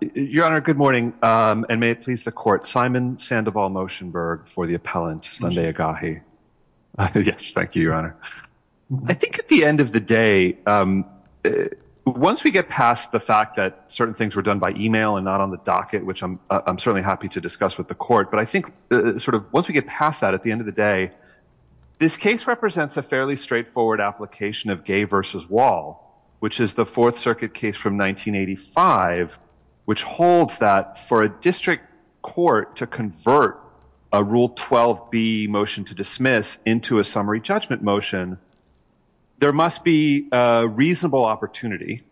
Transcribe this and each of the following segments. Your Honor, good morning, and may it please the Court, Simon Sandoval Moshenberg for the Appellant, Sunday Egahi. Yes, thank you, Your Honor. I think at the end of the day, once we get past the fact that certain things were done by email and not on the docket, which I'm certainly happy to discuss with the Court, but I think once we get past that, at the end of the day, this case represents a fairly straightforward application of gay versus wall, which is the Fourth Circuit case from 1985, which holds that for a district court to convert a Rule 12b motion to dismiss into a summary judgment motion, there must be a reasonable opportunity,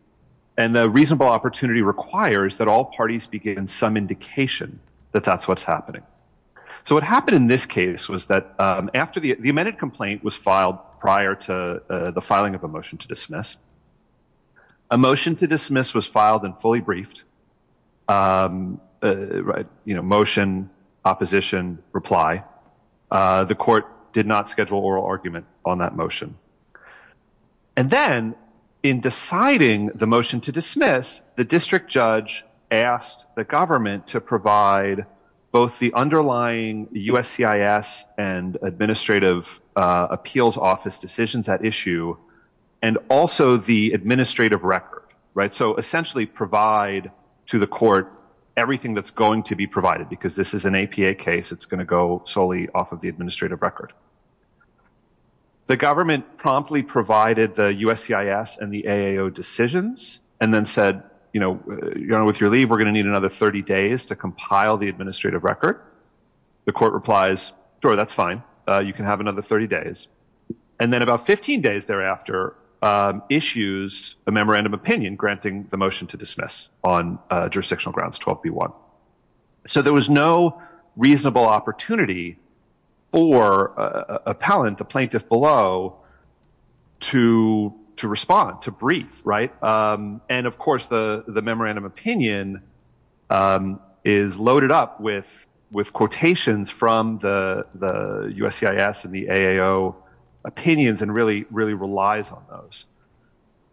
and the reasonable opportunity requires that all parties be given some indication that that's what's happening. So what happened in this case was that after the complaint was filed prior to the filing of a motion to dismiss, a motion to dismiss was filed and fully briefed, motion, opposition, reply. The Court did not schedule oral argument on that motion. And then in deciding the motion to dismiss, the district judge asked the government to provide both the underlying USCIS and administrative appeals office decisions at issue and also the administrative record, right? So essentially provide to the Court everything that's going to be provided because this is an APA case. It's going to go solely off of the administrative record. The government promptly provided the USCIS and the AAO decisions and then you know, with your leave, we're going to need another 30 days to compile the administrative record. The Court replies, sure, that's fine. You can have another 30 days. And then about 15 days thereafter, issues a memorandum of opinion granting the motion to dismiss on jurisdictional grounds 12b-1. So there was no reasonable opportunity for appellant, the plaintiff below, to respond, to brief, right? And of course, the memorandum of opinion is loaded up with quotations from the USCIS and the AAO opinions and really relies on those.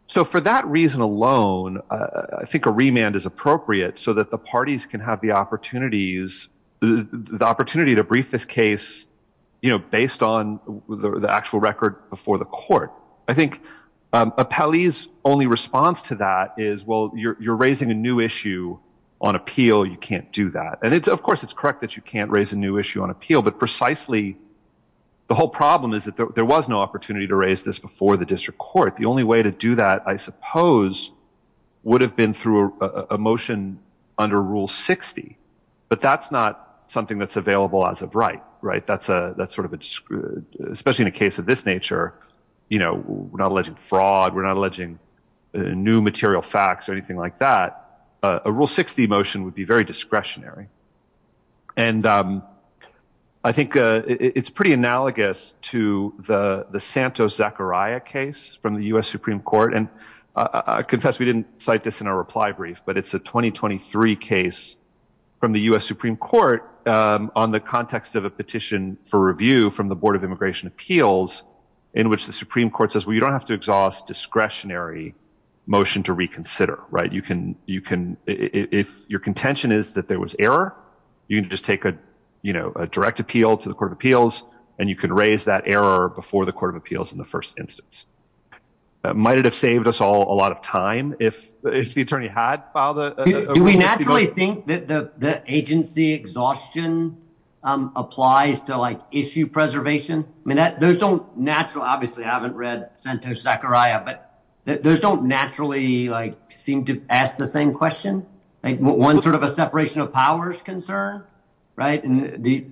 So for that reason alone, I think a remand is appropriate so that the parties can have opportunities, the opportunity to brief this case, you know, based on the actual record before the Court. I think Appellee's only response to that is, well, you're raising a new issue on appeal. You can't do that. And it's, of course, it's correct that you can't raise a new issue on appeal, but precisely the whole problem is that there was no opportunity to raise this before the District Court. The only way to do that, I suppose, would have been through a motion under Rule 60, but that's not something that's available as of right, right? That's sort of a, especially in a case of this nature, you know, we're not alleging fraud, we're not alleging new material facts or anything like that. A Rule 60 motion would be very discretionary. And I think it's pretty analogous to the Santos-Zachariah case from the U.S. Supreme Court. And I confess we didn't cite this in our reply brief, but it's a 2023 case from the U.S. Supreme Court on the context of a petition for review from the Board of Immigration Appeals in which the Supreme Court says, well, you don't have to exhaust discretionary motion to reconsider, right? You can, you can, if your contention is that there was error, you can just take a, you know, a direct appeal to the Court of Appeals and you can raise that error before the Court of Appeals in the first instance. Might it have saved us all a lot of time if the attorney had filed a Rule 60? Do we naturally think that the agency exhaustion applies to, like, issue preservation? I mean, that, those don't naturally, obviously I haven't read Santos-Zachariah, but those don't naturally, like, seem to ask the same question, like one sort of a separation of powers concern, right? And the,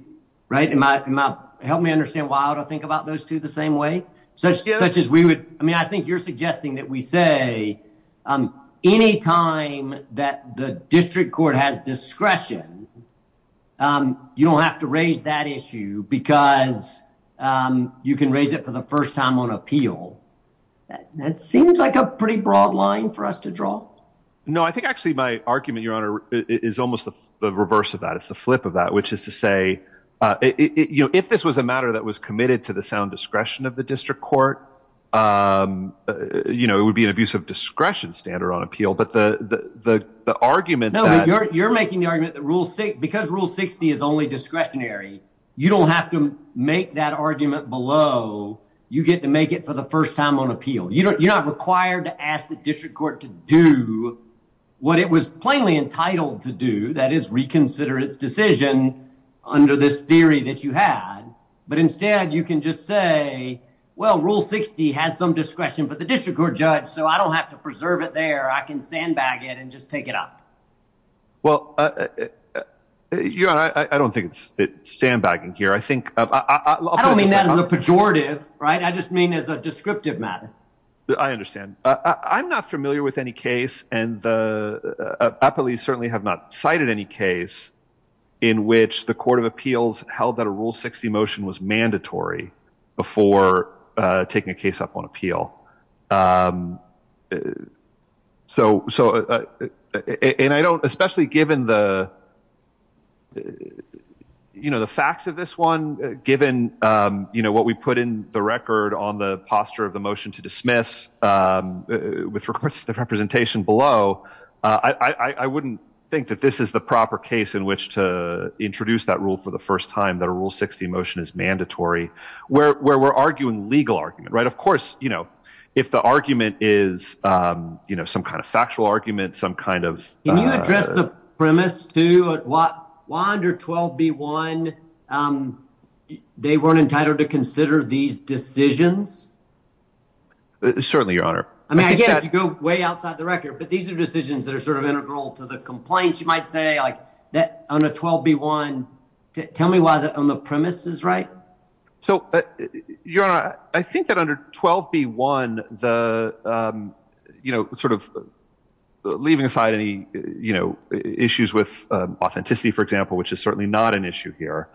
right, and my, help me understand why I ought to think about those two the same way, such as we would, I mean, I think you're suggesting that we say any time that the district court has discretion, you don't have to raise that issue because you can raise it for the first time on appeal. That seems like a pretty broad line for us to draw. No, I think actually my argument, Your Honor, is almost the reverse of that. It's the flip of that, which is to say, you know, if this was a matter that was committed to the sound discretion of the district court, you know, it would be an abuse of discretion standard on appeal, but the argument that... No, you're making the argument that Rule 60, because Rule 60 is only discretionary, you don't have to make that argument below. You get to make it for the first time on appeal. You have to make it for the first time on appeal. You can't just say, well, I think it was plainly entitled to do, that is reconsider its decision under this theory that you had, but instead, you can just say, well, Rule 60 has some discretion, but the district court judged, so I don't have to preserve it there. I can sandbag it and just take it up. Well, Your Honor, I don't think it's sandbagging here. I think... I don't mean that as a pejorative, right? I just mean as a descriptive matter. I understand. I'm not familiar with any case, and the appellees certainly have not cited any case in which the court of appeals held that a Rule 60 motion was mandatory before taking a case up on appeal. Especially given the facts of this one, given what we put in the record on the posture of the motion to dismiss with regards to the representation below, I wouldn't think that this is the proper case in which to introduce that rule for the first time that a Rule 60 motion is mandatory, where we're arguing legal argument, right? Of course, if the argument is some kind of factual argument, some kind of... Can you address the premise, too? Why under 12b1, they weren't entitled to consider these decisions? Certainly, Your Honor. I mean, I get it. You go way outside the record, but these are decisions that are sort of integral to the complaints, you might say, like on a 12b1. Tell me why on 12b1 the premise is right. Your Honor, I think that under 12b1, leaving aside any issues with authenticity, for example, which is certainly not an issue here,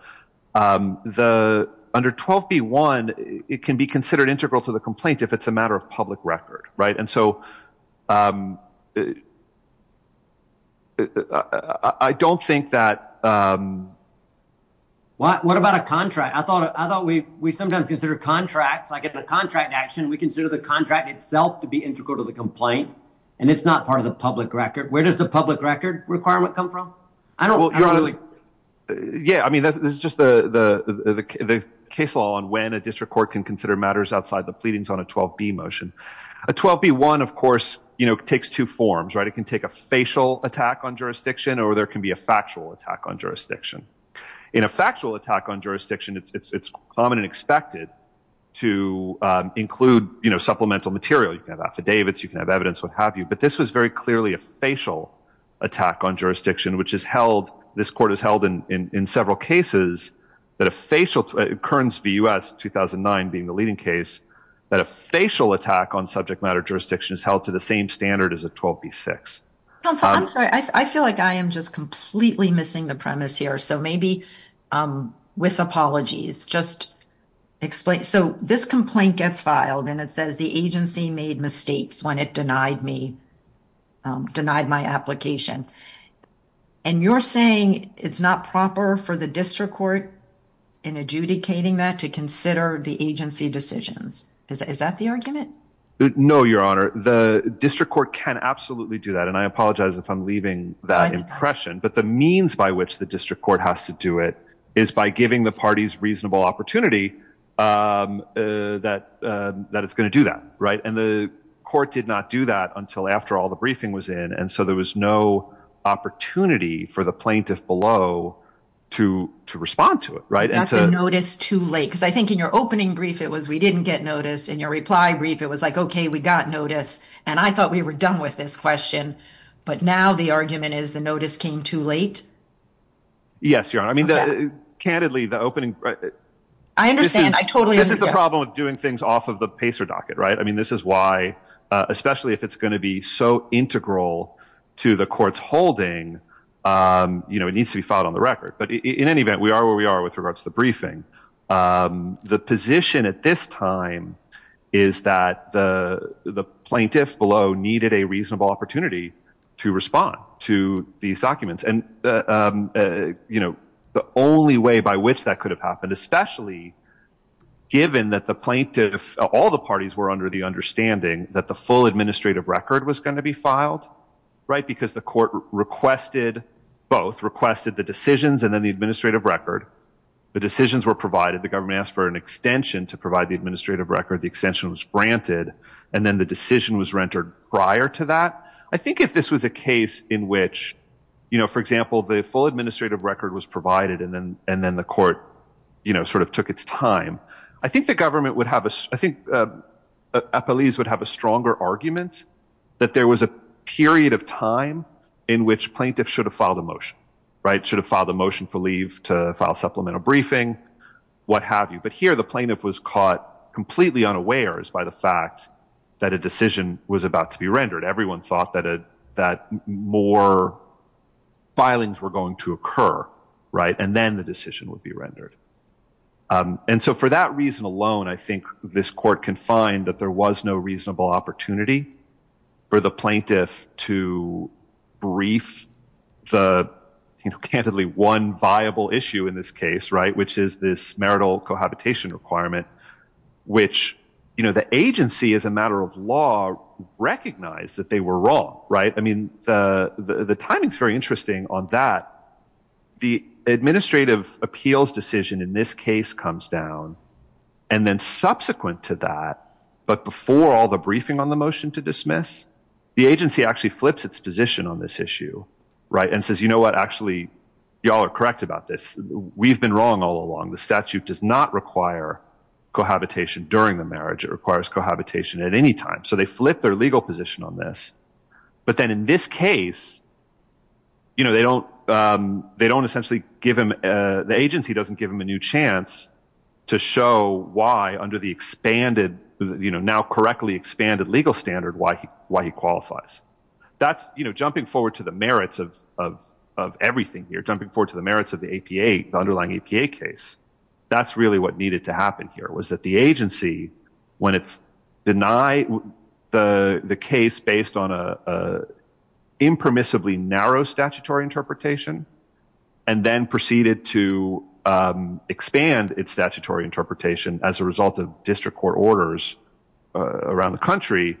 under 12b1, it can be considered integral to the complaint if it's a matter of public record, right? And so I don't think that... What about a contract? I thought we sometimes consider contracts, like in a contract action, we consider the contract itself to be integral to the complaint, and it's not part of the public record. Where does the public record requirement come from? I don't... Yeah, I mean, this is just the case law on when a district court can consider matters outside the pleadings on a 12b motion. A 12b1, of course, you know, takes two forms, right? It can take a attack on jurisdiction, or there can be a factual attack on jurisdiction. In a factual attack on jurisdiction, it's common and expected to include, you know, supplemental material. You can have affidavits, you can have evidence, what have you. But this was very clearly a facial attack on jurisdiction, which is held... This court has held in several cases that a facial... Kearns v. U.S., 2009, being the leading case, that a facial attack on subject matter jurisdiction is held to the same standard as a 12b6. Counsel, I'm sorry. I feel like I am just completely missing the premise here. So maybe with apologies, just explain. So this complaint gets filed, and it says the agency made mistakes when it denied me, denied my application. And you're saying it's not proper for the district court in adjudicating that to consider the agency decisions. Is that the argument? No, Your Honor. The district court can absolutely do that. And I apologize if I'm leaving that impression. But the means by which the district court has to do it is by giving the parties reasonable opportunity that it's going to do that, right? And the court did not do that until after all the briefing was in. And so there was no opportunity for the plaintiff below to respond to it, right? Not to notice too late, because I think in your opening brief, it was we didn't get notice. In your reply brief, it was like, okay, we got notice. And I thought we were done with this question. But now the argument is the notice came too late. Yes, Your Honor. I mean, candidly, the opening... I understand. I totally understand. This is the problem with doing things off of the PACER docket, right? I mean, this is why, especially if it's going to be so integral to the court's holding, you know, it needs to be filed on the record. But in any event, we are where we are with regards to the briefing. The position at this time is that the plaintiff below needed a reasonable opportunity to respond to these documents. And, you know, the only way by which that could have happened, especially given that the plaintiff, all the parties were under the understanding that the full administrative record was going to be filed, right? Because the requested both requested the decisions and then the administrative record, the decisions were provided, the government asked for an extension to provide the administrative record, the extension was granted, and then the decision was rendered prior to that. I think if this was a case in which, you know, for example, the full administrative record was provided, and then and then the court, you know, sort of took its time, I think the government would have, I think, a police would have a stronger argument, that there was a period of time in which plaintiffs should have filed a motion, right, should have filed a motion for leave to file supplemental briefing, what have you. But here, the plaintiff was caught completely unawares by the fact that a decision was about to be rendered, everyone thought that that more filings were going to occur, right, and then the decision would be rendered. And so for that reason alone, I think this court can find that there was no reasonable opportunity for the plaintiff to brief the, you know, candidly one viable issue in this case, right, which is this marital cohabitation requirement, which, you know, the agency as a matter of law, recognize that they were wrong, right? I mean, the timing is very interesting on that the administrative appeals decision in this case comes down. And then subsequent to that, but before all the briefing on the motion to dismiss, the agency actually flips its position on this issue, right, and says, you know what, actually, y'all are correct about this, we've been wrong all along, the statute does not require cohabitation during the marriage, it requires cohabitation at any time. So they flip their legal position on this. But then in this case, you know, they don't, they don't essentially give him the agency doesn't give him a new chance to show why under the expanded, you know, now correctly expanded legal standard, why he why he qualifies. That's, you know, jumping forward to the merits of everything, you're jumping forward to the merits of the APA underlying APA case. That's really what needed to happen here was that the agency, when it's denied the case based on a impermissibly narrow statutory interpretation, and then proceeded to expand its statutory interpretation as a result of district court orders around the country,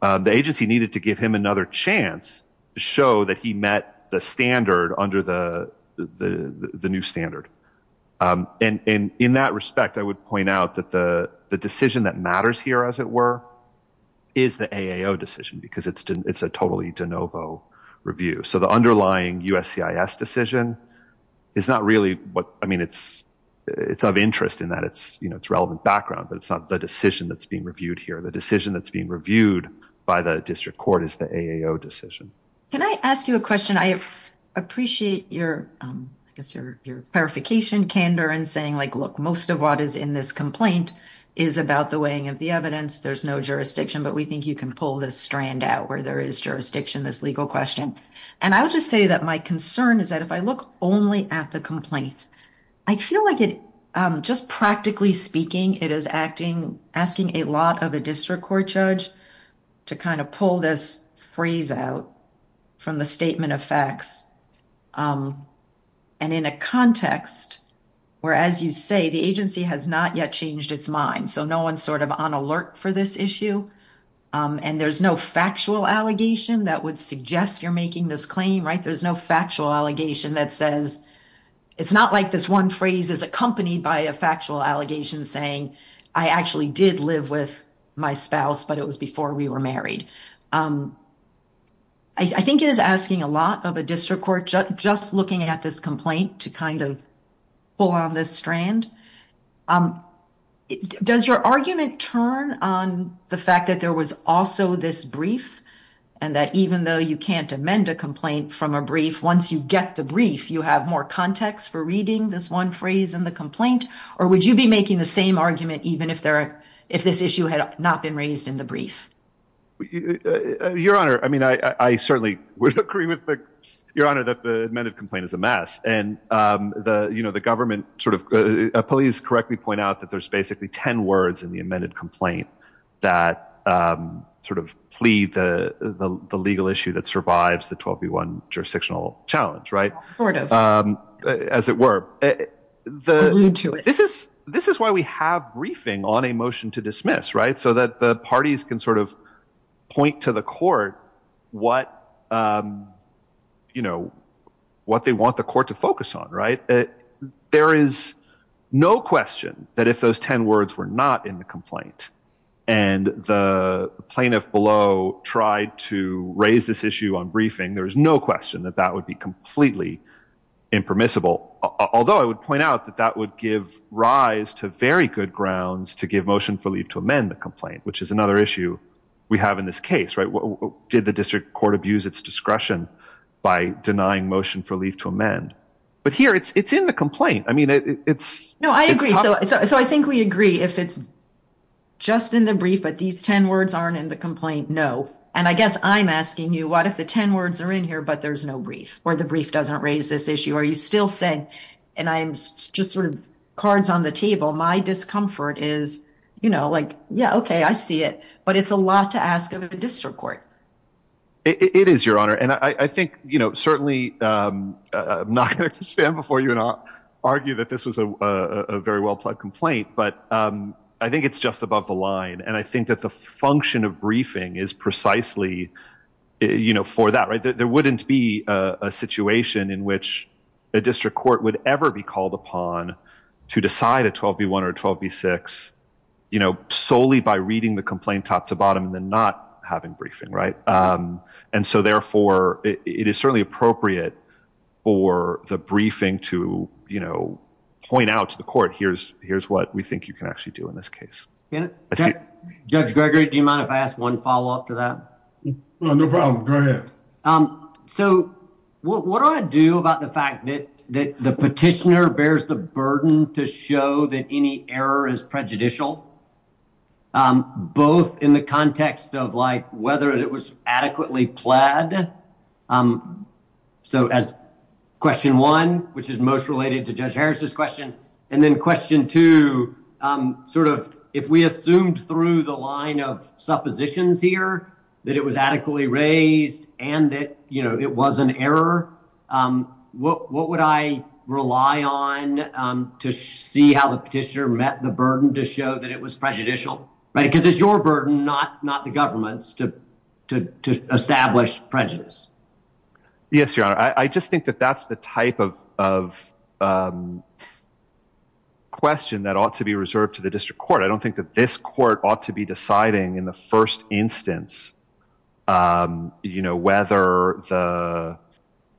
the agency needed to give him another chance to show that he met the standard under the new standard. And in that respect, I would point out that the decision that matters here, as it were, is the AIO decision, because it's totally de novo review. So the underlying USCIS decision is not really what I mean, it's, it's of interest in that it's, you know, it's relevant background, but it's not the decision that's being reviewed here. The decision that's being reviewed by the district court is the AIO decision. Can I ask you a question? I appreciate your, I guess, your clarification candor and saying like, look, most of what is in this complaint is about the weighing of the evidence, there's no jurisdiction, but we think you can pull this strand out where there is jurisdiction, this legal question. And I would just say that my concern is that if I look only at the complaint, I feel like it, just practically speaking, it is acting, asking a lot of a district court judge to kind of pull this freeze out from the statement of facts. And in a context where, as you say, the agency has not yet changed its mind. So no one's sort of on alert for this issue. And there's no factual allegation that would suggest you're making this claim, right? There's no factual allegation that says, it's not like this one phrase is accompanied by a factual allegation saying, I actually did live with my spouse, but it was before we were married. I think it is asking a lot of a district court judge just looking at this complaint to kind of pull on this strand. Does your argument turn on the fact that there was also this brief, and that even though you can't amend a complaint from a brief, once you get the brief, you have more context for reading this one phrase in the complaint? Or would you be making the same argument even if there if this issue had not been raised in the brief? Your Honor, I mean, I certainly would agree with the Your Honor that the amended complaint is a mess. And the you know, the government sort of police correctly point out that there's basically 10 words in the amended complaint that sort of plead the legal issue that survives the 12 v. 1 jurisdictional challenge, right? As it were, this is why we have briefing on a motion to dismiss, right? So that the parties can sort of point to the court, what, you know, what they want the court to focus on, right? There is no question that if those 10 words were not in the complaint, and the plaintiff below tried to raise this issue on briefing, there's no question that that would be completely impermissible. Although I would point out that that would give rise to very good grounds to give motion for leave to amend the complaint, which is another issue we have in this case, right? What did the district court abuse its discretion by denying motion for leave to amend? But here it's it's in the complaint. I mean, it's no, I agree. So so I think we agree if it's just in the brief, but these 10 words aren't in the complaint. No. And I guess I'm asking you what if the 10 words are in here, but there's no brief or the brief doesn't raise this issue? Are you still saying, and I'm just sort of cards on the table? My discomfort is, you know, like, yeah, okay, I see it. But it's a lot to ask of the district court. It is your honor. And I think, you know, certainly, I'm not going to stand before you and argue that this was a very well plugged complaint. But I think it's just above the line. And I think that the function of briefing is precisely, you know, for that, right, there wouldn't be a situation in which a district court would ever be called upon to decide a 12 B1 or 12 B6, you know, solely by reading the complaint top to bottom and then not having briefing, right. And so therefore, it is certainly appropriate for the briefing to, you know, point out to the court, here's, here's what we think you can actually do in this case. Judge Gregory, do you mind if I ask one follow up to that? No problem. Go ahead. So what do I do about the fact that that the petitioner bears the burden to show that any error is prejudicial? Both in the context of like, whether it was adequately plaid? So as question one, which is most related to Judge Harris's question, and then question two, sort of, if we assumed through the line of suppositions here, that it was adequately raised, and that, you know, it was an error, what would I rely on to see how the petitioner met the burden to show that it was prejudicial, right? Because it's your burden, not not the government's to establish prejudice? Yes, Your Honor, I just think that that's the type of question that ought to be reserved to the district court. I don't think that this court ought to be deciding in the first instance, you know, whether the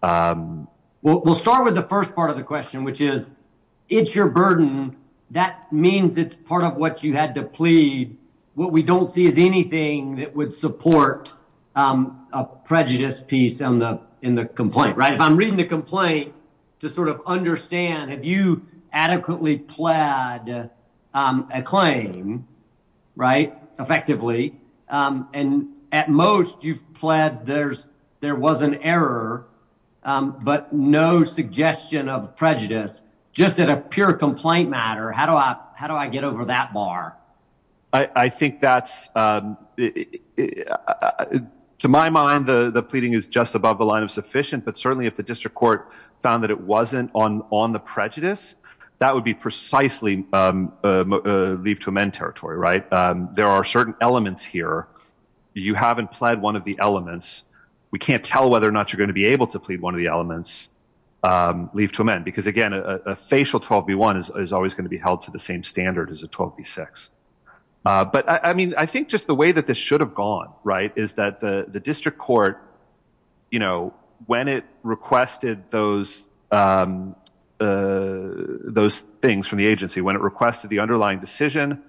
Well, we'll start with the first part of the question, which is, it's your burden. That means it's part of what you had to plead. What we don't see is anything that would support a prejudice piece in the complaint, right? If I'm reading the complaint, to sort of understand, have you adequately plaid a claim, right, effectively, and at most you've plaid there was an error, but no suggestion of prejudice. Just in a pure complaint matter, how do I get over that I think that's, to my mind, the pleading is just above the line of sufficient, but certainly if the district court found that it wasn't on on the prejudice, that would be precisely leave to amend territory, right? There are certain elements here. You haven't plaid one of the elements. We can't tell whether or not you're going to be able to plead one of the elements leave to amend because again, a facial 12 v one is always going to be six. But I mean, I think just the way that this should have gone, right, is that the district court, you know, when it requested those, those things from the agency, when it requested the underlying decision,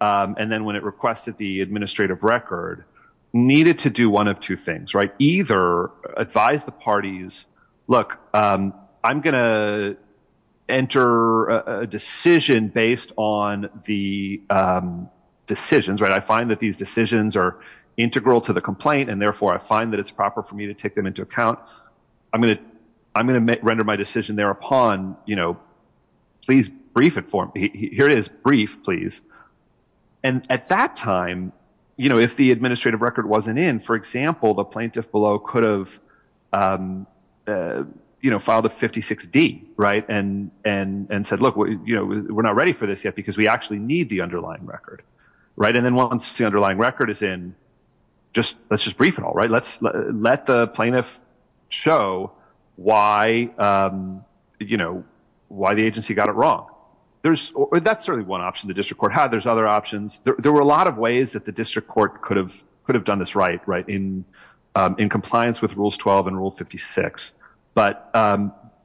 and then when it requested the administrative record, needed to do one of things, right, either advise the parties, look, I'm going to enter a decision based on the decisions, right, I find that these decisions are integral to the complaint. And therefore, I find that it's proper for me to take them into account. I'm going to, I'm going to render my decision thereupon, you know, please brief it for me. Here it is brief, please. And at that time, you know, if the administrative record wasn't in, for example, the plaintiff below could have, you know, filed a 56 D, right, and, and said, Look, what, you know, we're not ready for this yet, because we actually need the underlying record. Right. And then once the underlying record is in, just let's just brief and all right, let's let the plaintiff show why, you know, why the agency got it wrong. There's, that's certainly one option the district court had, there's other options, there were a lot of ways that the district court could have could have done this right, right in, in compliance with rules 12 and rule 56. But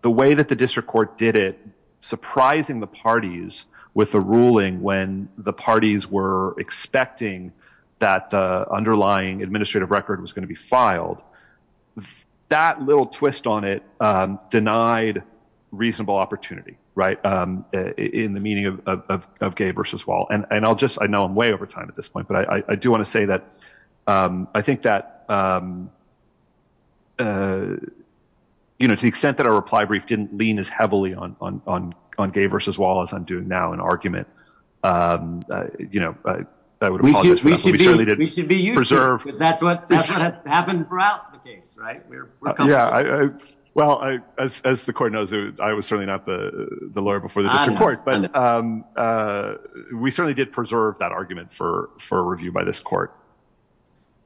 the way that the district court did it, surprising the parties with a ruling when the parties were expecting that underlying administrative record was going to be filed, that little twist on it, denied reasonable opportunity, right, in the meaning of gay versus wall. And I'll just I know, I'm way over time at this point, but I do want to say that. I think that, you know, to the extent that our reply brief didn't lean as heavily on on on gay versus wall, as I'm doing now in argument, you know, we should be reserved, because that's what happened throughout the case, right? Yeah, I, well, I, as the court knows, I was certainly not the lawyer before the district court, but we certainly did preserve that argument for for review by this court.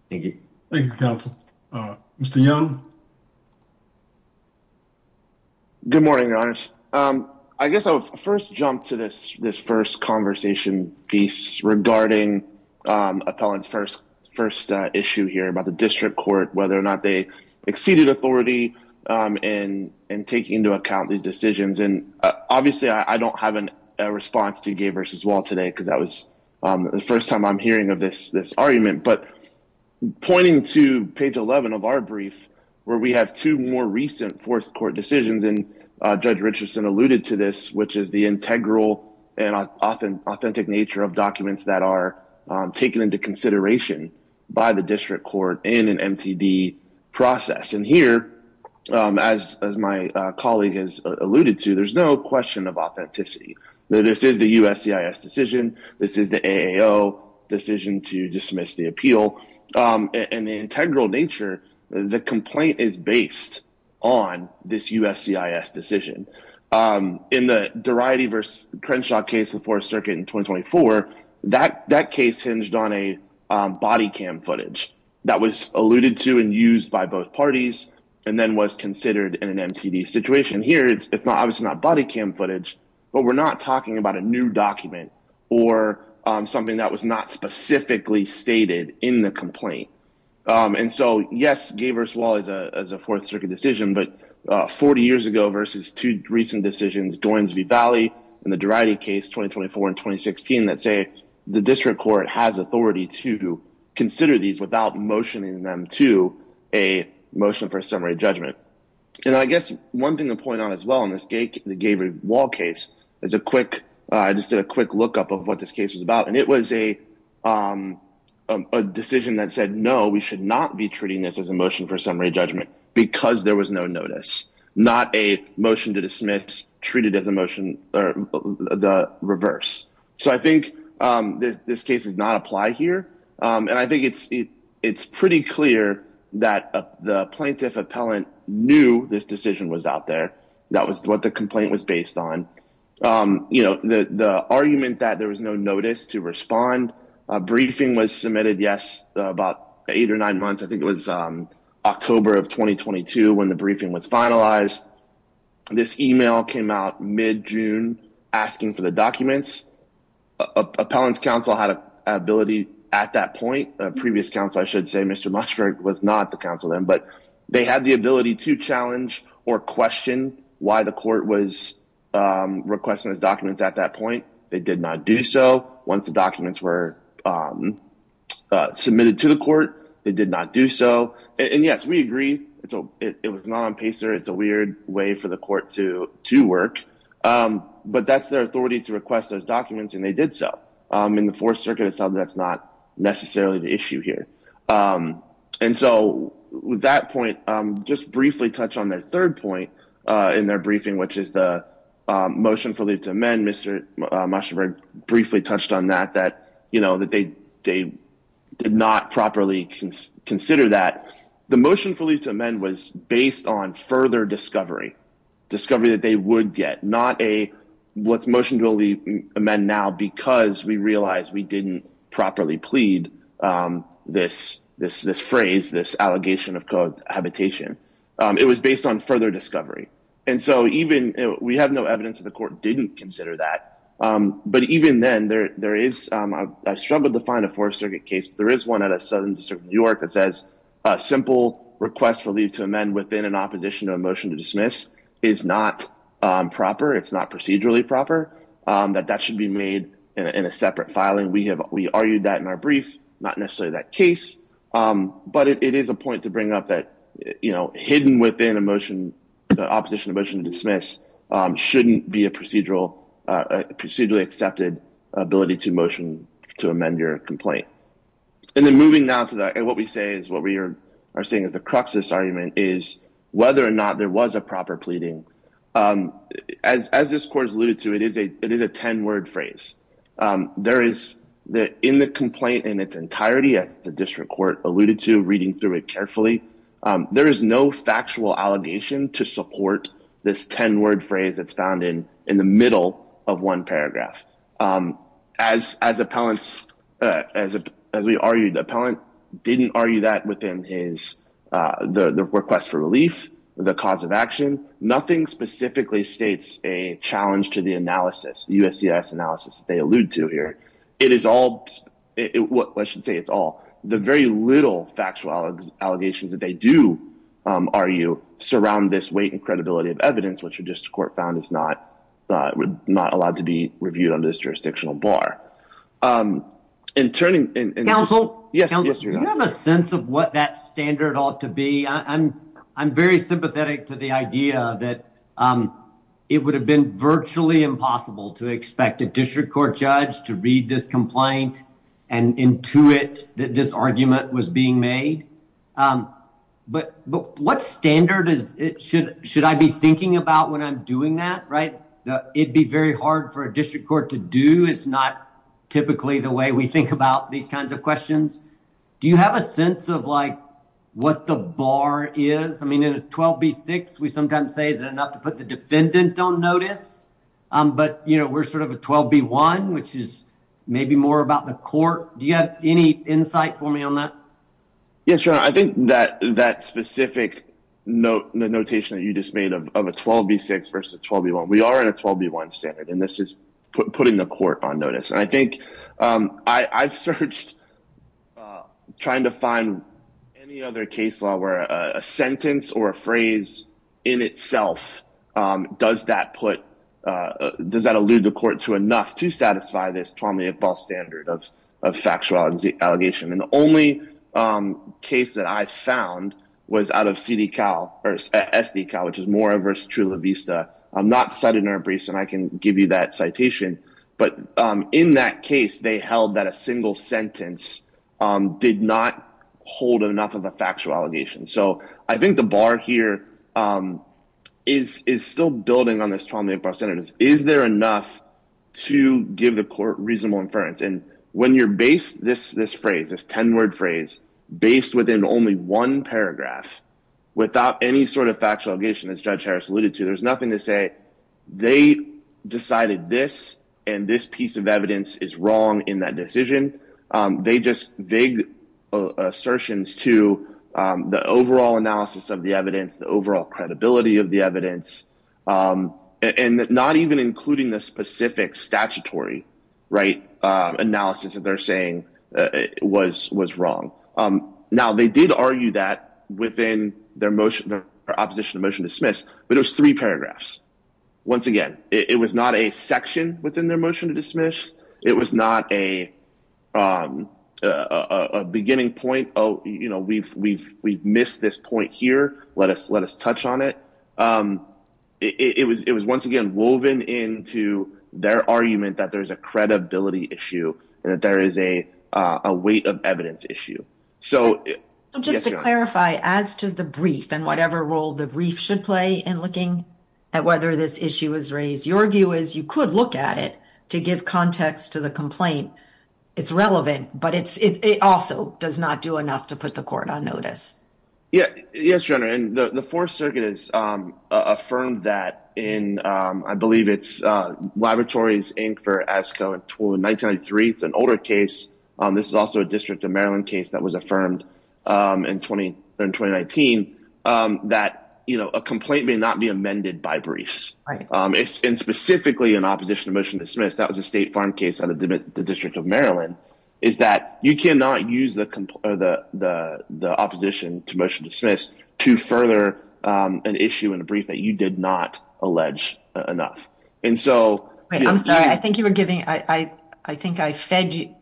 Thank you. Thank you, counsel. Mr. Young. Good morning, your honors. I guess I'll first jump to this, this first conversation piece regarding appellant's first, first issue here about the district court, whether or not they exceeded authority, and, and taking into account these decisions. And obviously, I don't have an response to gay versus wall today, because that was the first time I'm hearing of this, this argument, but pointing to page 11 of our brief, where we have two more recent fourth court decisions. And Judge Richardson alluded to this, which is the integral and often authentic nature of documents that are taken into consideration by the district court in an MTD process. And here, as my colleague has alluded to, there's no question of authenticity. This is the USCIS decision. This is the AO decision to dismiss the appeal. And the integral nature, the complaint is based on this USCIS decision. In the variety versus Crenshaw case, the fourth circuit in 2024, that that case hinged on a body cam footage that was alluded to and used by both parties, and then was considered in an MTD situation here, it's not obviously not body cam footage, but we're not talking about a new document, or something that was not specifically stated in the complaint. And so yes, gay versus wall is a fourth circuit decision, but 40 years ago versus two recent decisions, Goins v. Valley, and the Durati case 2024 and 2016, that say the district court has authority to consider these without motioning them to a motion for a summary judgment. And I guess one thing to point out as well in this gay versus wall case is a quick, I just did a quick lookup of what this case was about. And it was a decision that said, no, we should not be treating this as a motion for summary judgment, because there was no notice, not a motion to dismiss, treated as a motion, or the reverse. So I think this case does not apply here. And I think it's pretty clear that the plaintiff appellant knew this decision was out was what the complaint was based on. You know, the argument that there was no notice to respond, a briefing was submitted, yes, about eight or nine months, I think it was October of 2022, when the briefing was finalized. This email came out mid June, asking for the documents. Appellant's counsel had an ability at that point, previous counsel, I should say Mr. was not the counsel them, but they had the ability to challenge or question why the court was requesting those documents at that point, they did not do so once the documents were submitted to the court, they did not do so. And yes, we agree. It's a it was not on pacer. It's a weird way for the court to to work. But that's their authority to request those documents. And in the fourth circuit itself, that's not necessarily the issue here. And so with that point, just briefly touch on their third point in their briefing, which is the motion for leave to amend Mr. mushroom briefly touched on that, that, you know, that they they did not properly consider that the motion for leave to amend was based on further discovery, discovery that they would get what's motion to leave amend now, because we realized we didn't properly plead this, this, this phrase, this allegation of cohabitation, it was based on further discovery. And so even we have no evidence of the court didn't consider that. But even then there, there is, I've struggled to find a fourth circuit case, there is one at a southern district of New York that says, simple request for leave to amend within an opposition to a motion to dismiss is not proper, it's not procedurally proper, that that should be made in a separate filing, we have, we argued that in our brief, not necessarily that case. But it is a point to bring up that, you know, hidden within a motion, opposition to motion to dismiss, shouldn't be a procedural, procedurally accepted ability to motion to amend your complaint. And then moving now to that, and what we say is what we are saying is the crux of this argument is whether or not there was a proper pleading. As this course alluded to, it is a it is a 10 word phrase. There is that in the complaint in its entirety, as the district court alluded to reading through it carefully, there is no factual allegation to support this 10 word phrase that's found in in the middle of one paragraph. As as appellants, as, as we argued, the appellant didn't argue that within his the request for relief, the cause of action, nothing specifically states a challenge to the analysis, the USCIS analysis, they allude to here, it is all what I should say, it's all the very little factual allegations that they do, are you surround this weight and credibility of evidence, which are just court found is not not allowed to be reviewed under this jurisdictional bar. And turning Council, yes, you have a sense of what that standard ought to be. I'm, I'm very sympathetic to the idea that it would have been virtually impossible to expect a district court judge to read this complaint, and intuit that this argument was being made. But But what standard is it should, should I be thinking about when I'm doing that, it'd be very hard for a district court to do is not typically the way we think about these kinds of questions. Do you have a sense of like, what the bar is? I mean, in a 12 b six, we sometimes say is it enough to put the defendant don't notice? But you know, we're sort of a 12 b one, which is maybe more about the court. Do you have any insight for me on that? Yes, sure. I think that that specific note, the notation that you just made of a 12 b six versus 12 b one, we are at a 12 b one standard. And this is putting the court on notice. And I think I've searched trying to find any other case law where a sentence or a phrase in itself, does that put does that allude the court to enough to satisfy this Tommy of ball standard of a factuality allegation. And the only case that I found was out of CD cow, or SD cow, which is more of a true la vista. I'm not set in our briefs, and I can give you that citation. But in that case, they held that a single sentence did not hold enough of a factual allegation. So I think the bar here is is still building on this trauma about senators, is there enough to give the court reasonable inference. And when you're based this this phrase is 10 word based within only one paragraph, without any sort of factual allegation, as Judge Harris alluded to, there's nothing to say, they decided this, and this piece of evidence is wrong in that decision. They just vague assertions to the overall analysis of the evidence, the overall credibility of the evidence, and not even including the specific statutory, right analysis that they're saying was was wrong. Now, they did argue that within their motion, their opposition to motion dismiss, but it was three paragraphs. Once again, it was not a section within their motion to dismiss, it was not a beginning point. Oh, you know, we've, we've, we've missed this point here, let us let us touch on it. It was it was once again, woven into their argument that there's a credibility issue, and that there is a weight of evidence issue. So just to clarify, as to the brief, and whatever role the brief should play in looking at whether this issue is raised, your view is you could look at it to give context to the complaint. It's relevant, but it's it also does not do enough to put the court on notice. Yeah, yes, your honor. And the Fourth Circuit has affirmed that in, I believe it's Laboratories Inc. for ASCO in 1993, it's an older case. This is also a District of Maryland case that was affirmed in 2019. That, you know, a complaint may not be amended by briefs. It's been specifically an opposition to motion dismiss, that was a state farm case out of the District of Maryland, is that you cannot use the the opposition to motion dismiss to further an issue in a brief that you did not allege enough. And so, I'm sorry, I think you were giving, I think I fed you,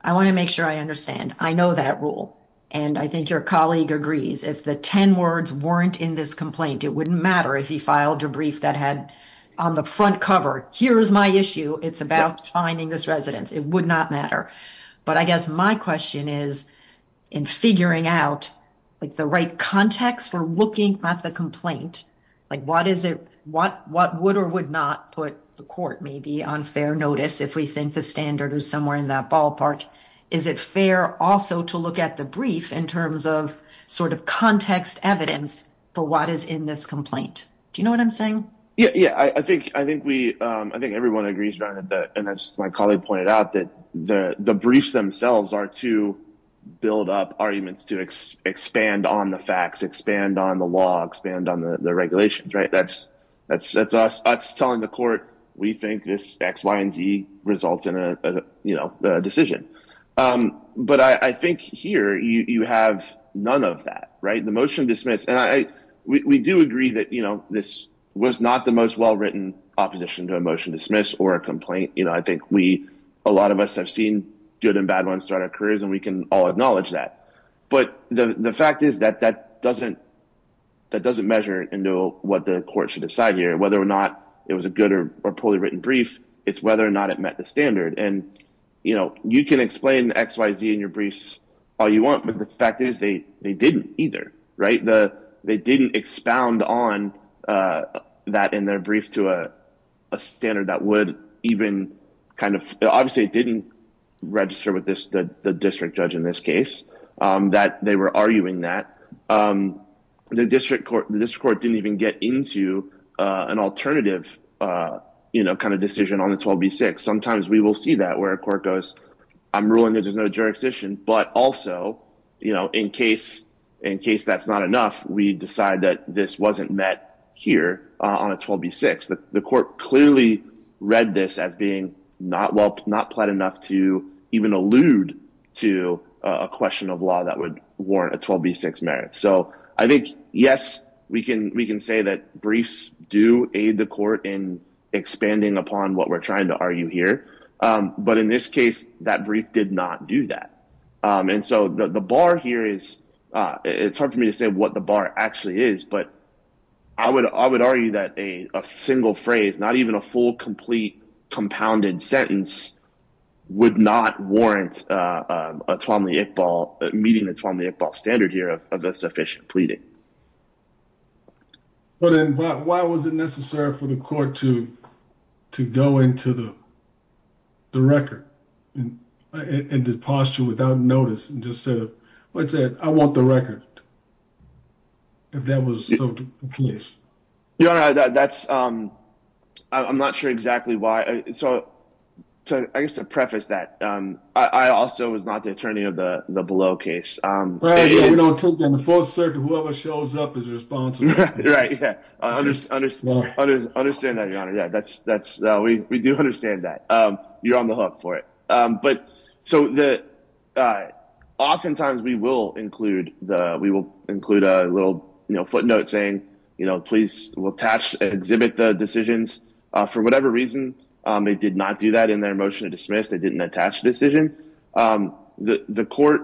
I want to make sure I understand. I know that rule, and I think your colleague agrees. If the 10 words weren't in this complaint, it wouldn't matter if he filed a brief that had on the front cover, here's my issue, it's about finding this residence. It would not matter. But I guess my question is, in figuring out like the right context for looking at the complaint, like what is it, what would or would not put the court maybe on fair notice if we think the standard is somewhere in that ballpark? Is it fair also to look at the brief in terms of sort of context evidence for what is in this complaint? Do you know what I'm saying? Yeah, yeah, I think we, I think everyone agrees around it. And as my colleague pointed out, that the briefs themselves are to build up arguments to expand on the facts, expand on the law, expand on the regulations, right? That's us telling the court, we think this X, Y, and Z results in a decision. But I think here, you have none of that, right? The motion dismiss, and we do agree that, you know, this was not the most well written opposition to a motion dismiss or a complaint. You know, I think we, a lot of us have seen good and bad ones throughout our careers. And we can all acknowledge that. But the fact is that that doesn't, that doesn't measure into what the court should decide here, whether or not it was a good or poorly written brief, it's whether or not it met the standard. And, you know, you can explain X, Y, Z in your briefs all you want. But the fact is, they didn't either, right? The they didn't expound on that in their brief to a standard that would even kind of obviously didn't register with this, the district judge in this case, that they were arguing that the district court, the district court didn't even get into an alternative, you know, kind of decision on the 12 v. 6. Sometimes we will see that where a court goes, I'm ruling there's no jurisdiction. But also, you know, in case, in case that's not enough, we decide that this wasn't met here on a 12 v. 6. The court clearly read this as being not well, not planned enough to even allude to a question of law that would warrant a 12 v. 6 merit. So I think, yes, we can we can say that briefs do aid the court in expanding upon what we're trying to argue here. But in this case, that brief did not do that. And so the bar here is, it's hard for me to say what the bar actually is. But I would argue that a single phrase, not even a full, complete, compounded sentence would not warrant a 12 v. 6, meeting the 12 v. 6 standard here of a sufficient pleading. But then why was it necessary for the court to to go into the the record in the posture without notice and just said, let's say, I want the record. If that was the case, you know, that's I'm not sure exactly why. So I guess to preface that, I also was not the attorney of the below case. We don't take that in the fourth circuit. Whoever shows up is responsible. Right. Yeah, I understand that. Yeah, that's that's we we do understand that you're on the hook for it. But so that oftentimes we will include the we will include a little footnote saying, you know, please attach exhibit the decisions for whatever reason. They did not do that in their motion to dismiss. They didn't attach a decision. The court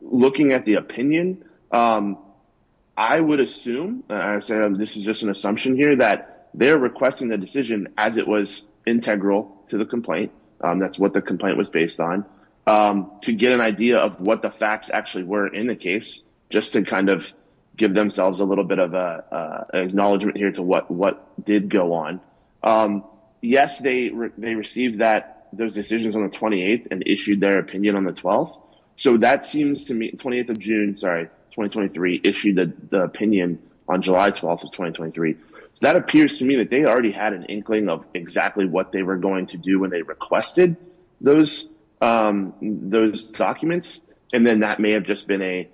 looking at the opinion, I would assume this is just an assumption here that they're requesting the decision as it was integral to the complaint. That's what the complaint was based on to get an idea of what the facts actually were in the case, just to kind of give themselves a little bit of acknowledgement here to what what did go on. Yes, they received that those decisions on the 28th and issued their opinion on the 12th. So that seems to me 20th of June. Sorry, 2023 issued the opinion on July 12th of 2023. So that appears to me that they already had an inkling of exactly what they were going to do when they requested those those documents. And then that may have just been a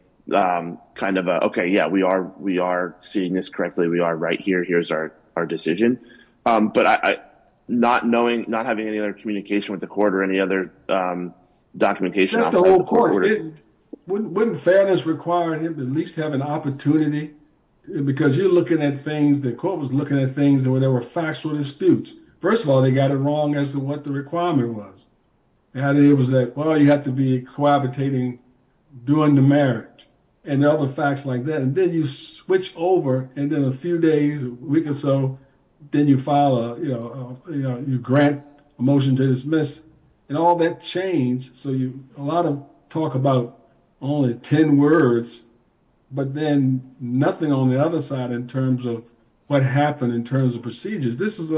kind of a Okay, yeah, we are we are seeing this correctly. We are right here. Here's our our decision. But I not knowing not having any other communication with the court or any other documentation, the whole court wouldn't wouldn't fairness require him to at least have an opportunity. Because you're looking at things the court was looking at things that were there were factual disputes. First of all, they got it wrong as to what the requirement was. And it was that, well, you have to be cohabitating, doing the marriage, and other facts like that. And then you switch over. And then a few days, a week or so, then you file, you know, you grant a motion to dismiss, and all that change. So you a lot of talk about only 10 words, but then nothing on the other side in terms of what happened in terms of I don't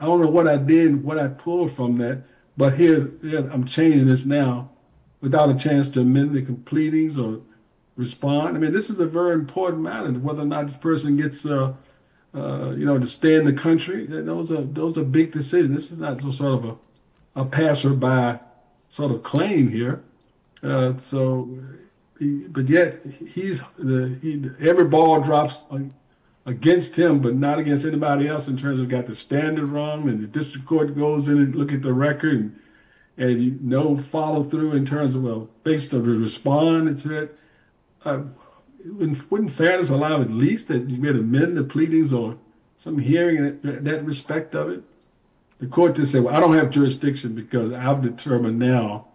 know what I did and what I pulled from that. But here, I'm changing this now, without a chance to amend the completings or respond. I mean, this is a very important matter, whether or not this person gets, you know, to stay in the country. Those are those are big decisions. This is not some sort of a passerby sort of claim here. So, but yet, he's the he every ball drops against him, but not against anybody else in terms of got the standard wrong, and the district court goes in and look at the record. And, you know, follow through in terms of well, based on the response, wouldn't fairness allow at least that you may amend the pleadings or some hearing that respect of it. The court to say, well, I don't have jurisdiction, because I've determined now,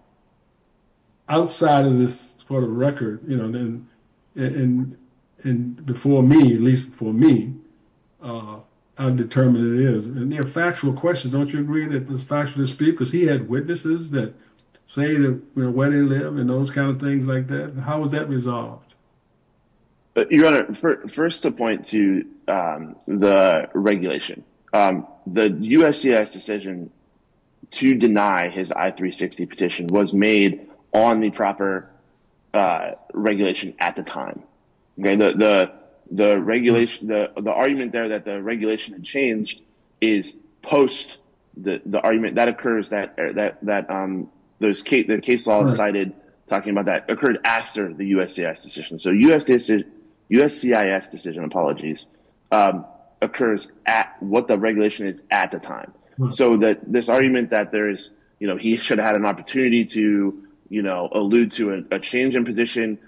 outside of this sort of record, you know, and, and, and before me, at least for me, I'm determined it is near factual questions. Don't you agree that this factually speak because he had witnesses that say that when they live and those kind of things like that, how was that resolved? But your honor, first point to the regulation, the USCIS decision to deny his I 360 petition was made on the proper regulation at the time. The, the, the regulation, the argument there that the regulation changed is post the argument that occurs that, that, that there's Kate, the case law cited, talking about that occurred after the USCIS decision. So USCIS decision, apologies, occurs at what the regulation is at the time. So that this argument that there is, you know, he should have had an opportunity to, you know, allude to a change in position,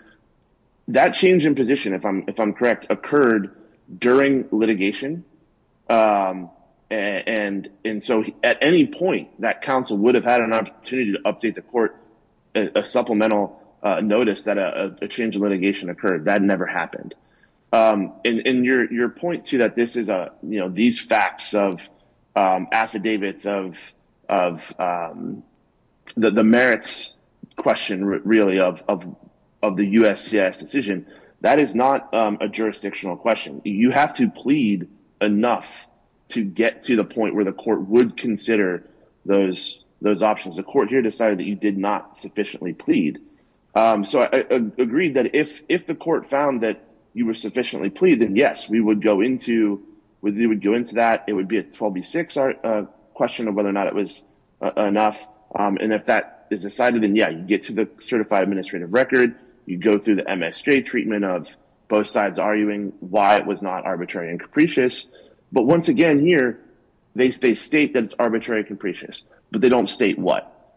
that change in position, if I'm, if I'm correct, occurred during litigation. And, and so at any point that counsel would have had an opportunity to update the court, a supplemental notice that a change in litigation occurred, that never happened. And, and your, your point to that, this is a, you know, these facts of affidavits of, of the merits question really of, of, of the USCIS decision, that is not a jurisdictional question. You have to plead enough to get to the point where the court would consider those, those options. The court here decided that you did not sufficiently plead. So I agreed that if, if the court found that you were sufficiently plead, then yes, we would go into, we would go into that. It would be a 12B6 question of whether or not it was enough. And if that is decided, then yeah, you get to the certified administrative record. You go through the MSJ treatment of both sides arguing why it was not arbitrary and capricious. But once again, here, they state that it's arbitrary and capricious, but they don't state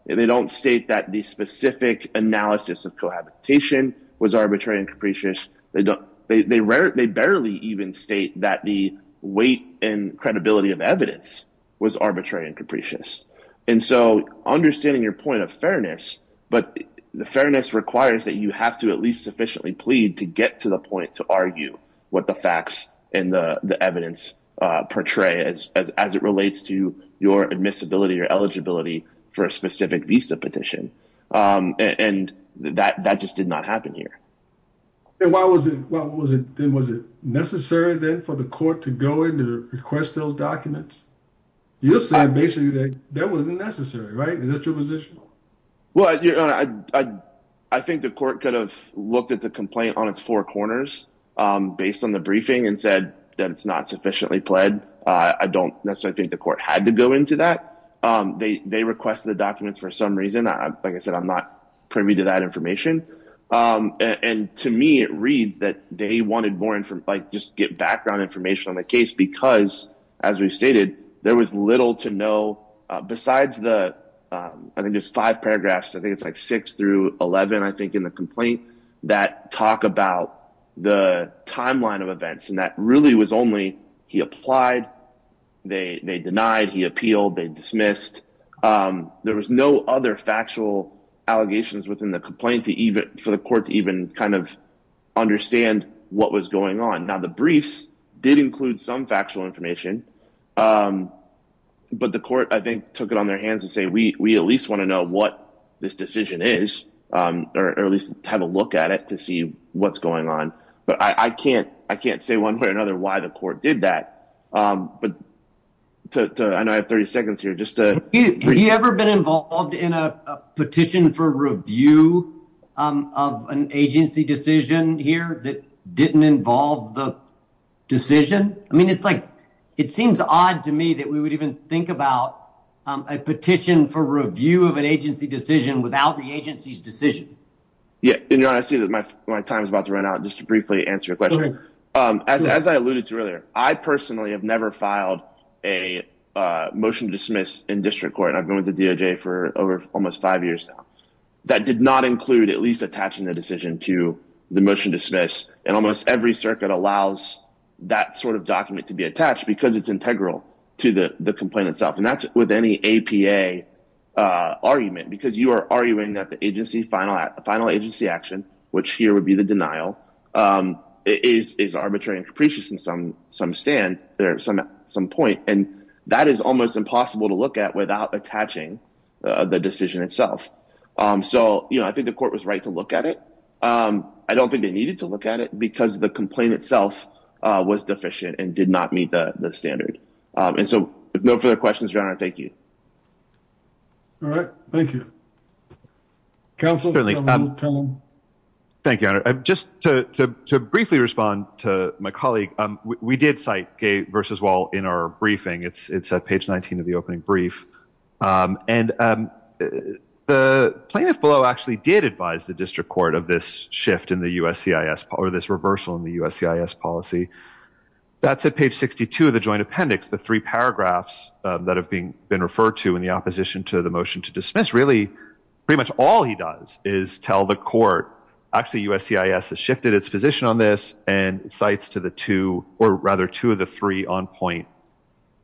they don't state that the specific analysis of cohabitation was arbitrary and capricious. They don't, they rarely, they barely even state that the weight and credibility of evidence was arbitrary and capricious. And so understanding your point of fairness, but the fairness requires that you have to at least sufficiently plead to get to the point to argue what the facts and the, the evidence portray as, as, as it relates to your admissibility or eligibility for a specific visa petition. And that, that just did not happen here. And why was it, why was it, was it necessary then for the court to go in to request those documents? You said basically that that wasn't necessary, right? Is that your position? Well, I think the court could have looked at the complaint on its four corners based on the briefing and said that it's not sufficiently pled. I don't necessarily think the court had to go into that. They, they requested the documents for some reason. Like I said, I'm not privy to that information. And to me, it reads that they wanted more information, like just get background information on the case, because as we've stated, there was little to know besides the, I think there's five paragraphs. I think it's like six through 11, I think in the complaint that talk about the timeline of events. And that really was only, he applied, they, they denied, he appealed, they dismissed. There was no other factual allegations within the complaint to even, for the court to even kind of understand what was going on. Now the briefs did include some factual information, but the court, I think took it on their hands and say, we, we at least want to know what this decision is, or at least have a look at it to see what's going on. But I can't, I can't say one way or another why the court did that. But to, I know I have 30 seconds here just to... Have you ever been involved in a petition for review of an agency decision here that didn't involve the decision? I mean, it's like, it seems odd to me that we would even think about a petition for review of an agency decision without the agency's decision. Yeah. And you know, I see that my time is about to run out just to briefly answer your question. As I alluded to earlier, I personally have never filed a motion to dismiss in district court. And I've been with the DOJ for over almost five years now. That did not include at least attaching the decision to the motion to dismiss. And almost every circuit allows that sort of document to be attached because it's integral to the complaint itself. And that's with any APA argument, because you are arguing that the agency final, final agency action, which here would be the denial, is arbitrary and capricious in some, some stand there at some point. And that is almost impossible to look at without attaching the decision itself. So, you know, I think the court was right to look at it. I don't think they needed to look at it because the complaint itself was deficient and did not meet the standard. And so no further questions around. Thank you. All right. Thank you. Council. Thank you. Just to briefly respond to my colleague, we did cite gate versus wall in our briefing. It's it's a page 19 of the opening brief. And the plaintiff below actually did advise the court of this shift in the USCIS or this reversal in the USCIS policy. That's at page 62 of the joint appendix, the three paragraphs that have been referred to in the opposition to the motion to dismiss really pretty much all he does is tell the court actually USCIS has shifted its position on this and cites to the two or rather two of the three on point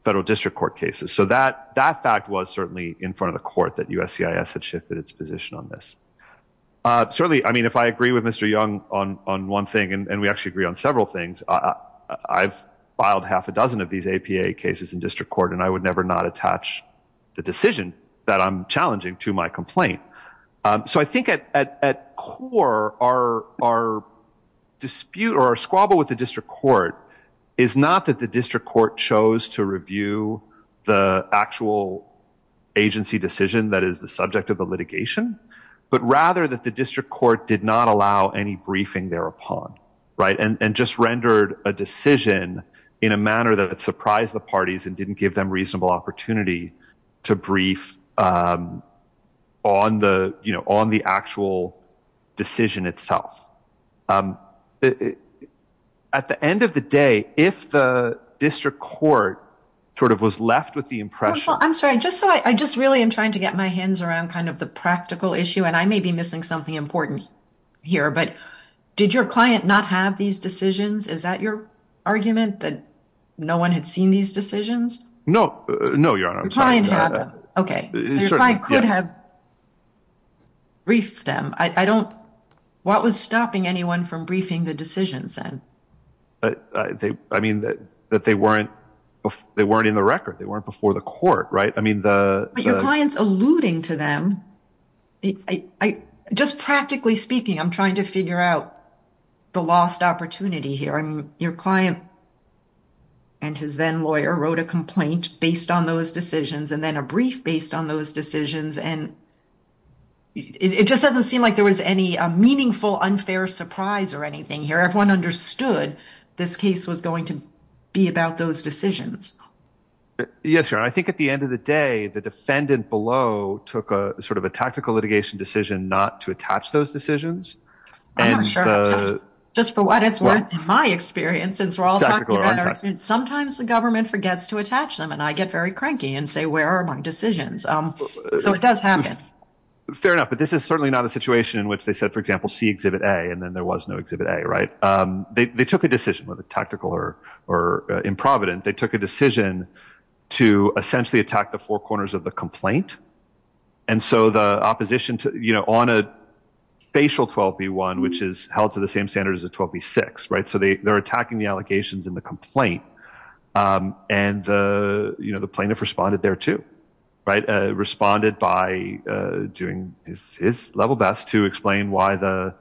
federal district court cases. So that that fact was certainly in front of the court that USCIS had shifted its position on this. Certainly, I mean, if I agree with Mr. Young on one thing and we actually agree on several things, I've filed half a dozen of these APA cases in district court, and I would never not attach the decision that I'm challenging to my complaint. So I think at core are our dispute or squabble with the district court is not that the district court chose to review the actual agency decision that is the subject of the litigation, but rather that the district court did not allow any briefing thereupon. Right. And just rendered a decision in a manner that surprised the parties and didn't give them reasonable opportunity to brief on the on the actual decision itself. At the end of the day, if the district court sort of was left with the impression. I'm sorry, just so I just really am trying to get my hands around kind of the practical issue, and I may be missing something important here, but did your client not have these decisions? Is that your argument that no one had seen these decisions? No, no, your honor. Okay. Brief them. I don't. What was stopping anyone from briefing the decisions then? But I mean, that they weren't, they weren't in the record. They weren't before the court, right? I mean, the client's alluding to them. I just practically speaking, I'm trying to figure out the lost opportunity here. And your client and his then lawyer wrote a complaint based on those decisions, and then a brief based on those decisions. And it just doesn't seem like there was any meaningful unfair surprise or anything here. Everyone understood this case was going to be about those decisions. Yes, your honor. I think at the end of the day, the defendant below took a sort of a tactical litigation decision not to attach those decisions. Just for what it's worth, in my experience, since we're all talking about it, sometimes the government forgets to attach them and I get very cranky and say, where are my decisions? So it does happen. Fair enough. But this is certainly not a situation in which they said, for example, see exhibit a and then there was no exhibit a right. They took a decision with a tactical or, or in Providence, they took a decision to essentially attack the four corners of the complaint. And so the opposition to, you know, on a facial 12 v one, which is held to the same standard as a 12 v six, right? So they they're attacking the allegations in the complaint. And, you know, the plaintiff responded there to, right, responded by doing his level best to explain why the,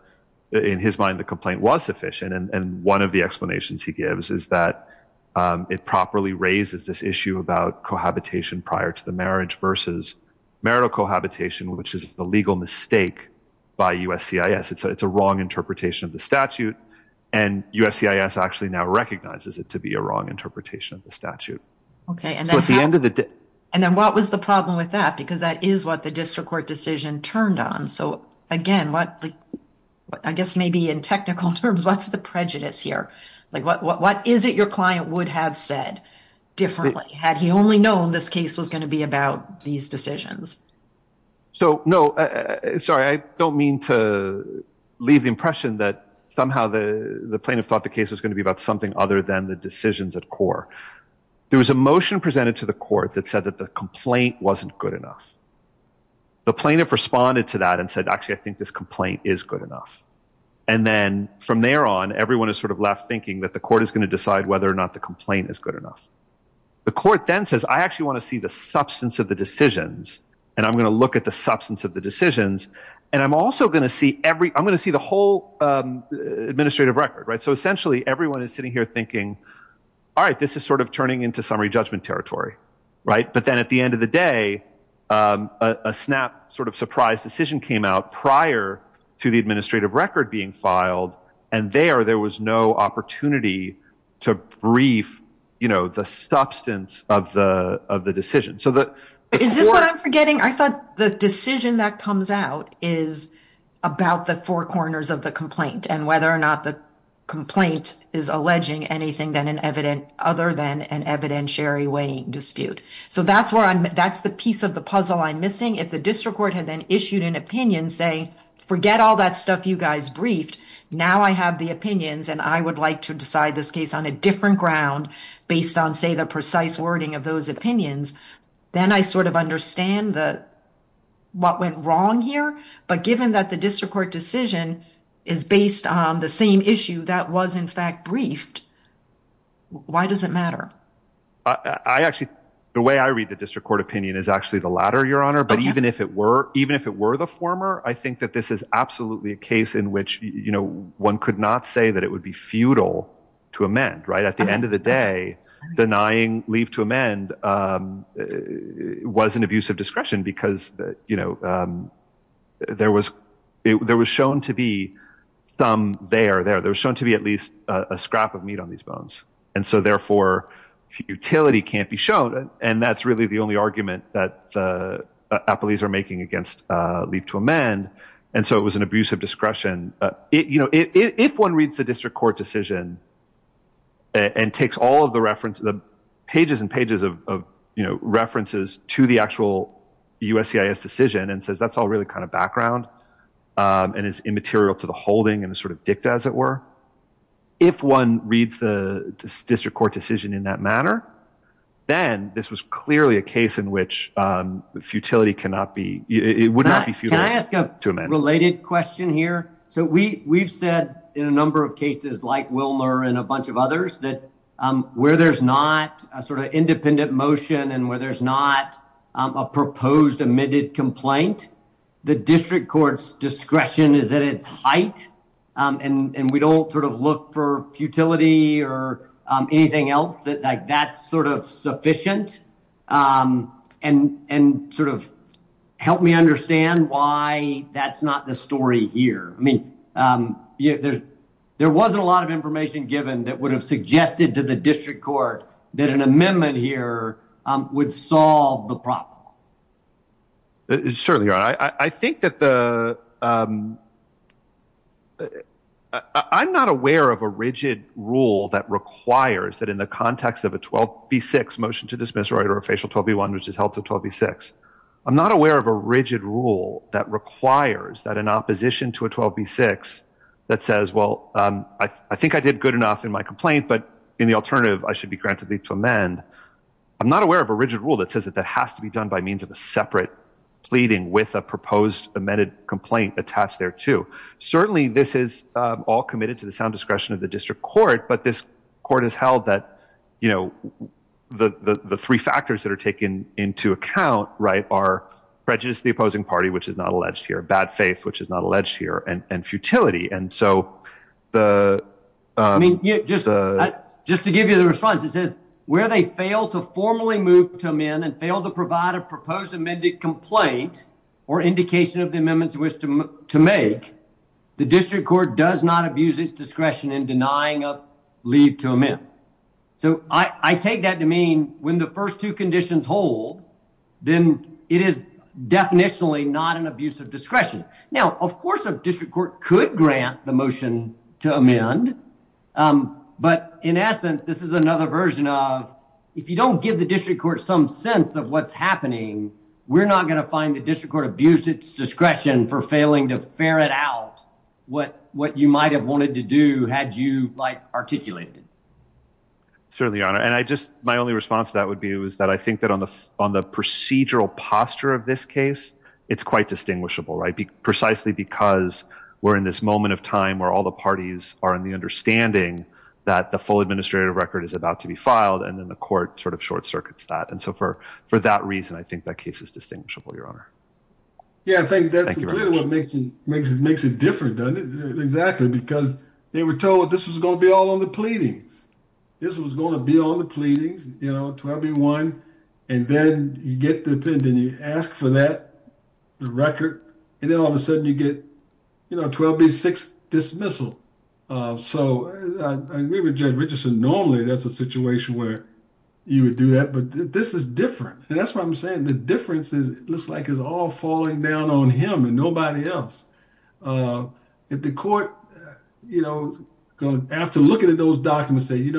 in his mind, the complaint was sufficient. And one of the explanations he gives is that it properly raises this issue about cohabitation prior to the marriage versus marital cohabitation, which is a legal mistake by USC is it's a it's a wrong interpretation of the statute. And USC is actually now recognizes it to be a wrong interpretation of the statute. Okay. And at the end of the day, and then what was the problem with that? Because that is what the district court decision turned on. So again, what I guess maybe in technical terms, what's the prejudice here? Like what, what, what is it your client would have said differently had he only known this case was going to be about these decisions? So no, sorry, I don't mean to leave the impression that somehow the plaintiff thought the case was going to be about something other than the decisions at core. There was a motion presented to the court that said that the complaint wasn't good enough. The plaintiff responded to that and said, actually, I think this complaint is good enough. And then from there on, everyone is sort of left thinking that the court is going to decide whether or not the complaint is good enough. The court then says, I actually want to see the substance of the decisions. And I'm going to look at the substance of the decisions. And I'm also going to see every, I'm going to see the whole administrative record, right? So essentially, everyone is sitting here thinking, all right, this is sort of turning into summary judgment territory. Right. But then at the end of the day, a snap sort of surprise decision came out prior to the administrative record being filed. And there, there was no opportunity to brief the substance of the decision. Is this what I'm forgetting? I thought the decision that comes out is about the four corners of the complaint and whether or not the complaint is alleging anything other than an evidentiary weighing dispute. So that's the piece of the puzzle I'm missing. If the district court had then issued an opinion saying, forget all that stuff, you guys briefed. Now I have the opinions and I would like to decide this case on a different ground based on say the precise wording of those opinions. Then I sort of understand the, what went wrong here, but given that the district court decision is based on the same issue that was in fact briefed, why does it matter? I actually, the way I read the district court opinion is actually the latter your honor, but even if it were, even if it were the former, I think that this is absolutely a case in which, you know, one could not say that it would be futile to amend. Right. At the end of the day, denying leave to amend was an abusive discretion because you know there was, there was shown to be some there, there, there was shown to be at least a scrap of meat on these bones. And so therefore futility can't be shown. And that's really the only argument that appellees are making against leave to amend. And so it was an abusive discretion. You know, if one reads the district court decision and takes all of the references, the pages and pages of, you know, references to the actual USCIS decision and says, that's all really kind of background and is immaterial to the holding and the sort of dicta as it were. If one reads the district court decision in that manner, then this was clearly a case in which futility cannot be, it would not be futile to amend. Can I ask a related question here? So we we've said in a number of cases like Wilmer and a bunch of others that where there's not a sort of independent motion and where there's not a proposed admitted complaint, the district court's discretion is at its height. And we don't sort of look for futility or anything else that like that's sort of sufficient and sort of help me understand why that's not the story here. I mean, there wasn't a lot of information given that would have suggested to the district court that an amendment here would solve the problem. It's certainly right. I think that the, I'm not aware of a rigid rule that requires that in the context of a 12b6 motion to dismiss right or a facial 12b1, which is held to 12b6. I'm not aware of a rigid rule that requires that an opposition to a 12b6 that says, well, I think I did good enough in my complaint, but in the alternative, I should be granted the to amend. I'm not aware of a rigid rule that says that that has to be done by means of a separate pleading with a proposed amended complaint attached there too. Certainly this is all committed to the sound discretion of the district court, but this court has held that, you know, the three factors that are taken into account, right, are prejudice to the opposing party, which is not alleged here, bad faith, which is not alleged here and futility. And so the, I mean, just to give you the response, it says where they fail to formally move to amend and fail to provide a proposed amended complaint or indication of the amendments to make, the district court does not abuse its discretion in denying a leave to amend. So I take that to mean when the first two conditions hold, then it is definitionally not an abuse of discretion. Now, of course, a district court could grant the motion to amend, but in essence, this is of what's happening. We're not going to find the district court abuse its discretion for failing to ferret out what you might've wanted to do had you like articulated it. Certainly, your honor. And I just, my only response to that would be, it was that I think that on the procedural posture of this case, it's quite distinguishable, right? Precisely because we're in this moment of time where all the parties are in the understanding that the full administrative record is about to be filed. And then the court sort of short circuits that. So for that reason, I think that case is distinguishable, your honor. Yeah, I think that's what makes it different, doesn't it? Exactly. Because they were told this was going to be all on the pleadings. This was going to be on the pleadings, 12B1. And then you get the opinion, you ask for that record, and then all of a sudden you get 12B6 dismissal. So I agree with Judge Richardson, normally that's a situation where you would do that, but this is different. And that's why I'm saying the difference looks like it's all falling down on him and nobody else. If the court, after looking at those documents, say,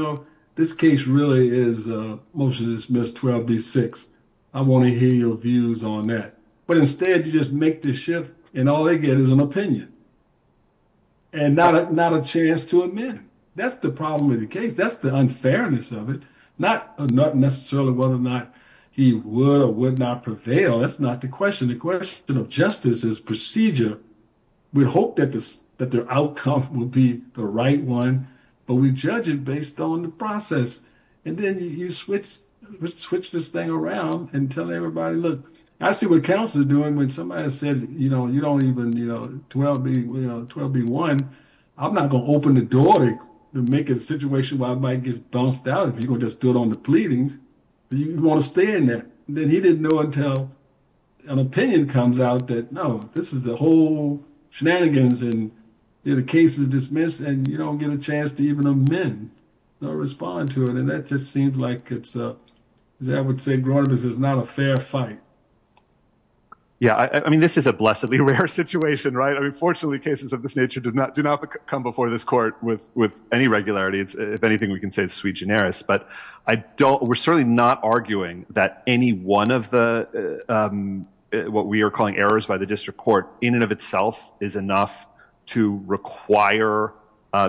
this case really is a motion to dismiss 12B6. I want to hear your views on that. But instead you just make the shift and all they get is an opinion and not a chance to admit it. That's the problem with the case. That's the unfairness of it. Not necessarily whether or not he would or would not prevail. That's not the question. The question of justice is procedure. We hope that their outcome will be the right one, but we judge it based on the process. And then you switch this thing around and tell everybody, look, I see what counsel is doing when somebody said, you don't even, 12B1, I'm not going to open the door to make a situation where I might get bounced out if you're going to just do it on the pleadings. But you want to stay in there. Then he didn't know until an opinion comes out that, no, this is the whole shenanigans and the case is dismissed and you don't get a chance to even amend or respond to it. And that just seems like, as I would say, is not a fair fight. Yeah. I mean, this is a blessedly rare situation, right? I mean, fortunately, cases of this nature do not come before this court with any regularity. If anything, we can say it's sui generis, but we're certainly not arguing that any one of the, what we are calling errors by the district court in and of itself is enough to require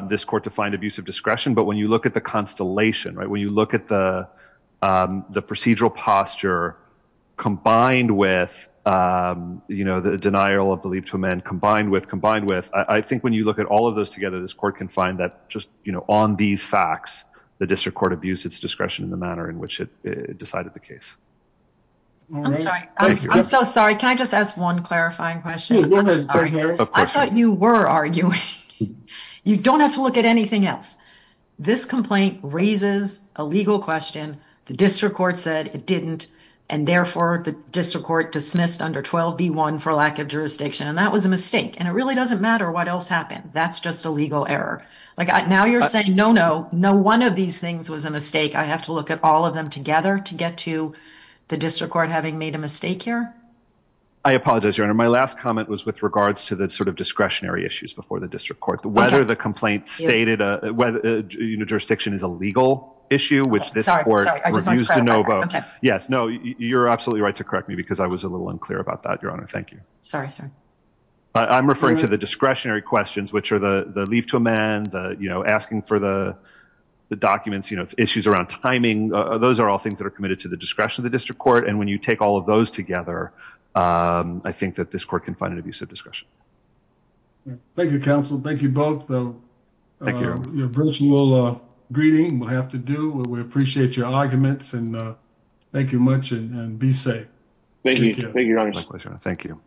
this court to find discretion. But when you look at the constellation, right, when you look at the procedural posture combined with the denial of belief to amend combined with, I think when you look at all of those together, this court can find that just on these facts, the district court abused its discretion in the manner in which it decided the case. I'm sorry. I'm so sorry. Can I just ask one clarifying question? I thought you were arguing. You don't have to look at anything else. This complaint raises a legal question. The district court said it didn't. And therefore, the district court dismissed under 12 B1 for lack of jurisdiction. And that was a mistake. And it really doesn't matter what else happened. That's just a legal error. Like now you're saying no, no, no. One of these things was a mistake. I have to look at all of them together to get to the district court having made a mistake here. I apologize, your honor. My last comment was with regards to the sort of discretionary issues before the district court, whether the complaint stated you know, jurisdiction is a legal issue, which this court used to no vote. Yes. No, you're absolutely right to correct me because I was a little unclear about that. Your honor. Thank you. Sorry, sir. I'm referring to the discretionary questions, which are the leave to amend, you know, asking for the documents, you know, issues around timing. Those are all things that are committed to the discretion of the district court. And when you take all of those together, I think that this court can find an abusive discretion. Thank you, counsel. Thank you both. Your personal greeting we'll have to do. We appreciate your arguments and thank you much and be safe. Thank you. Thank you.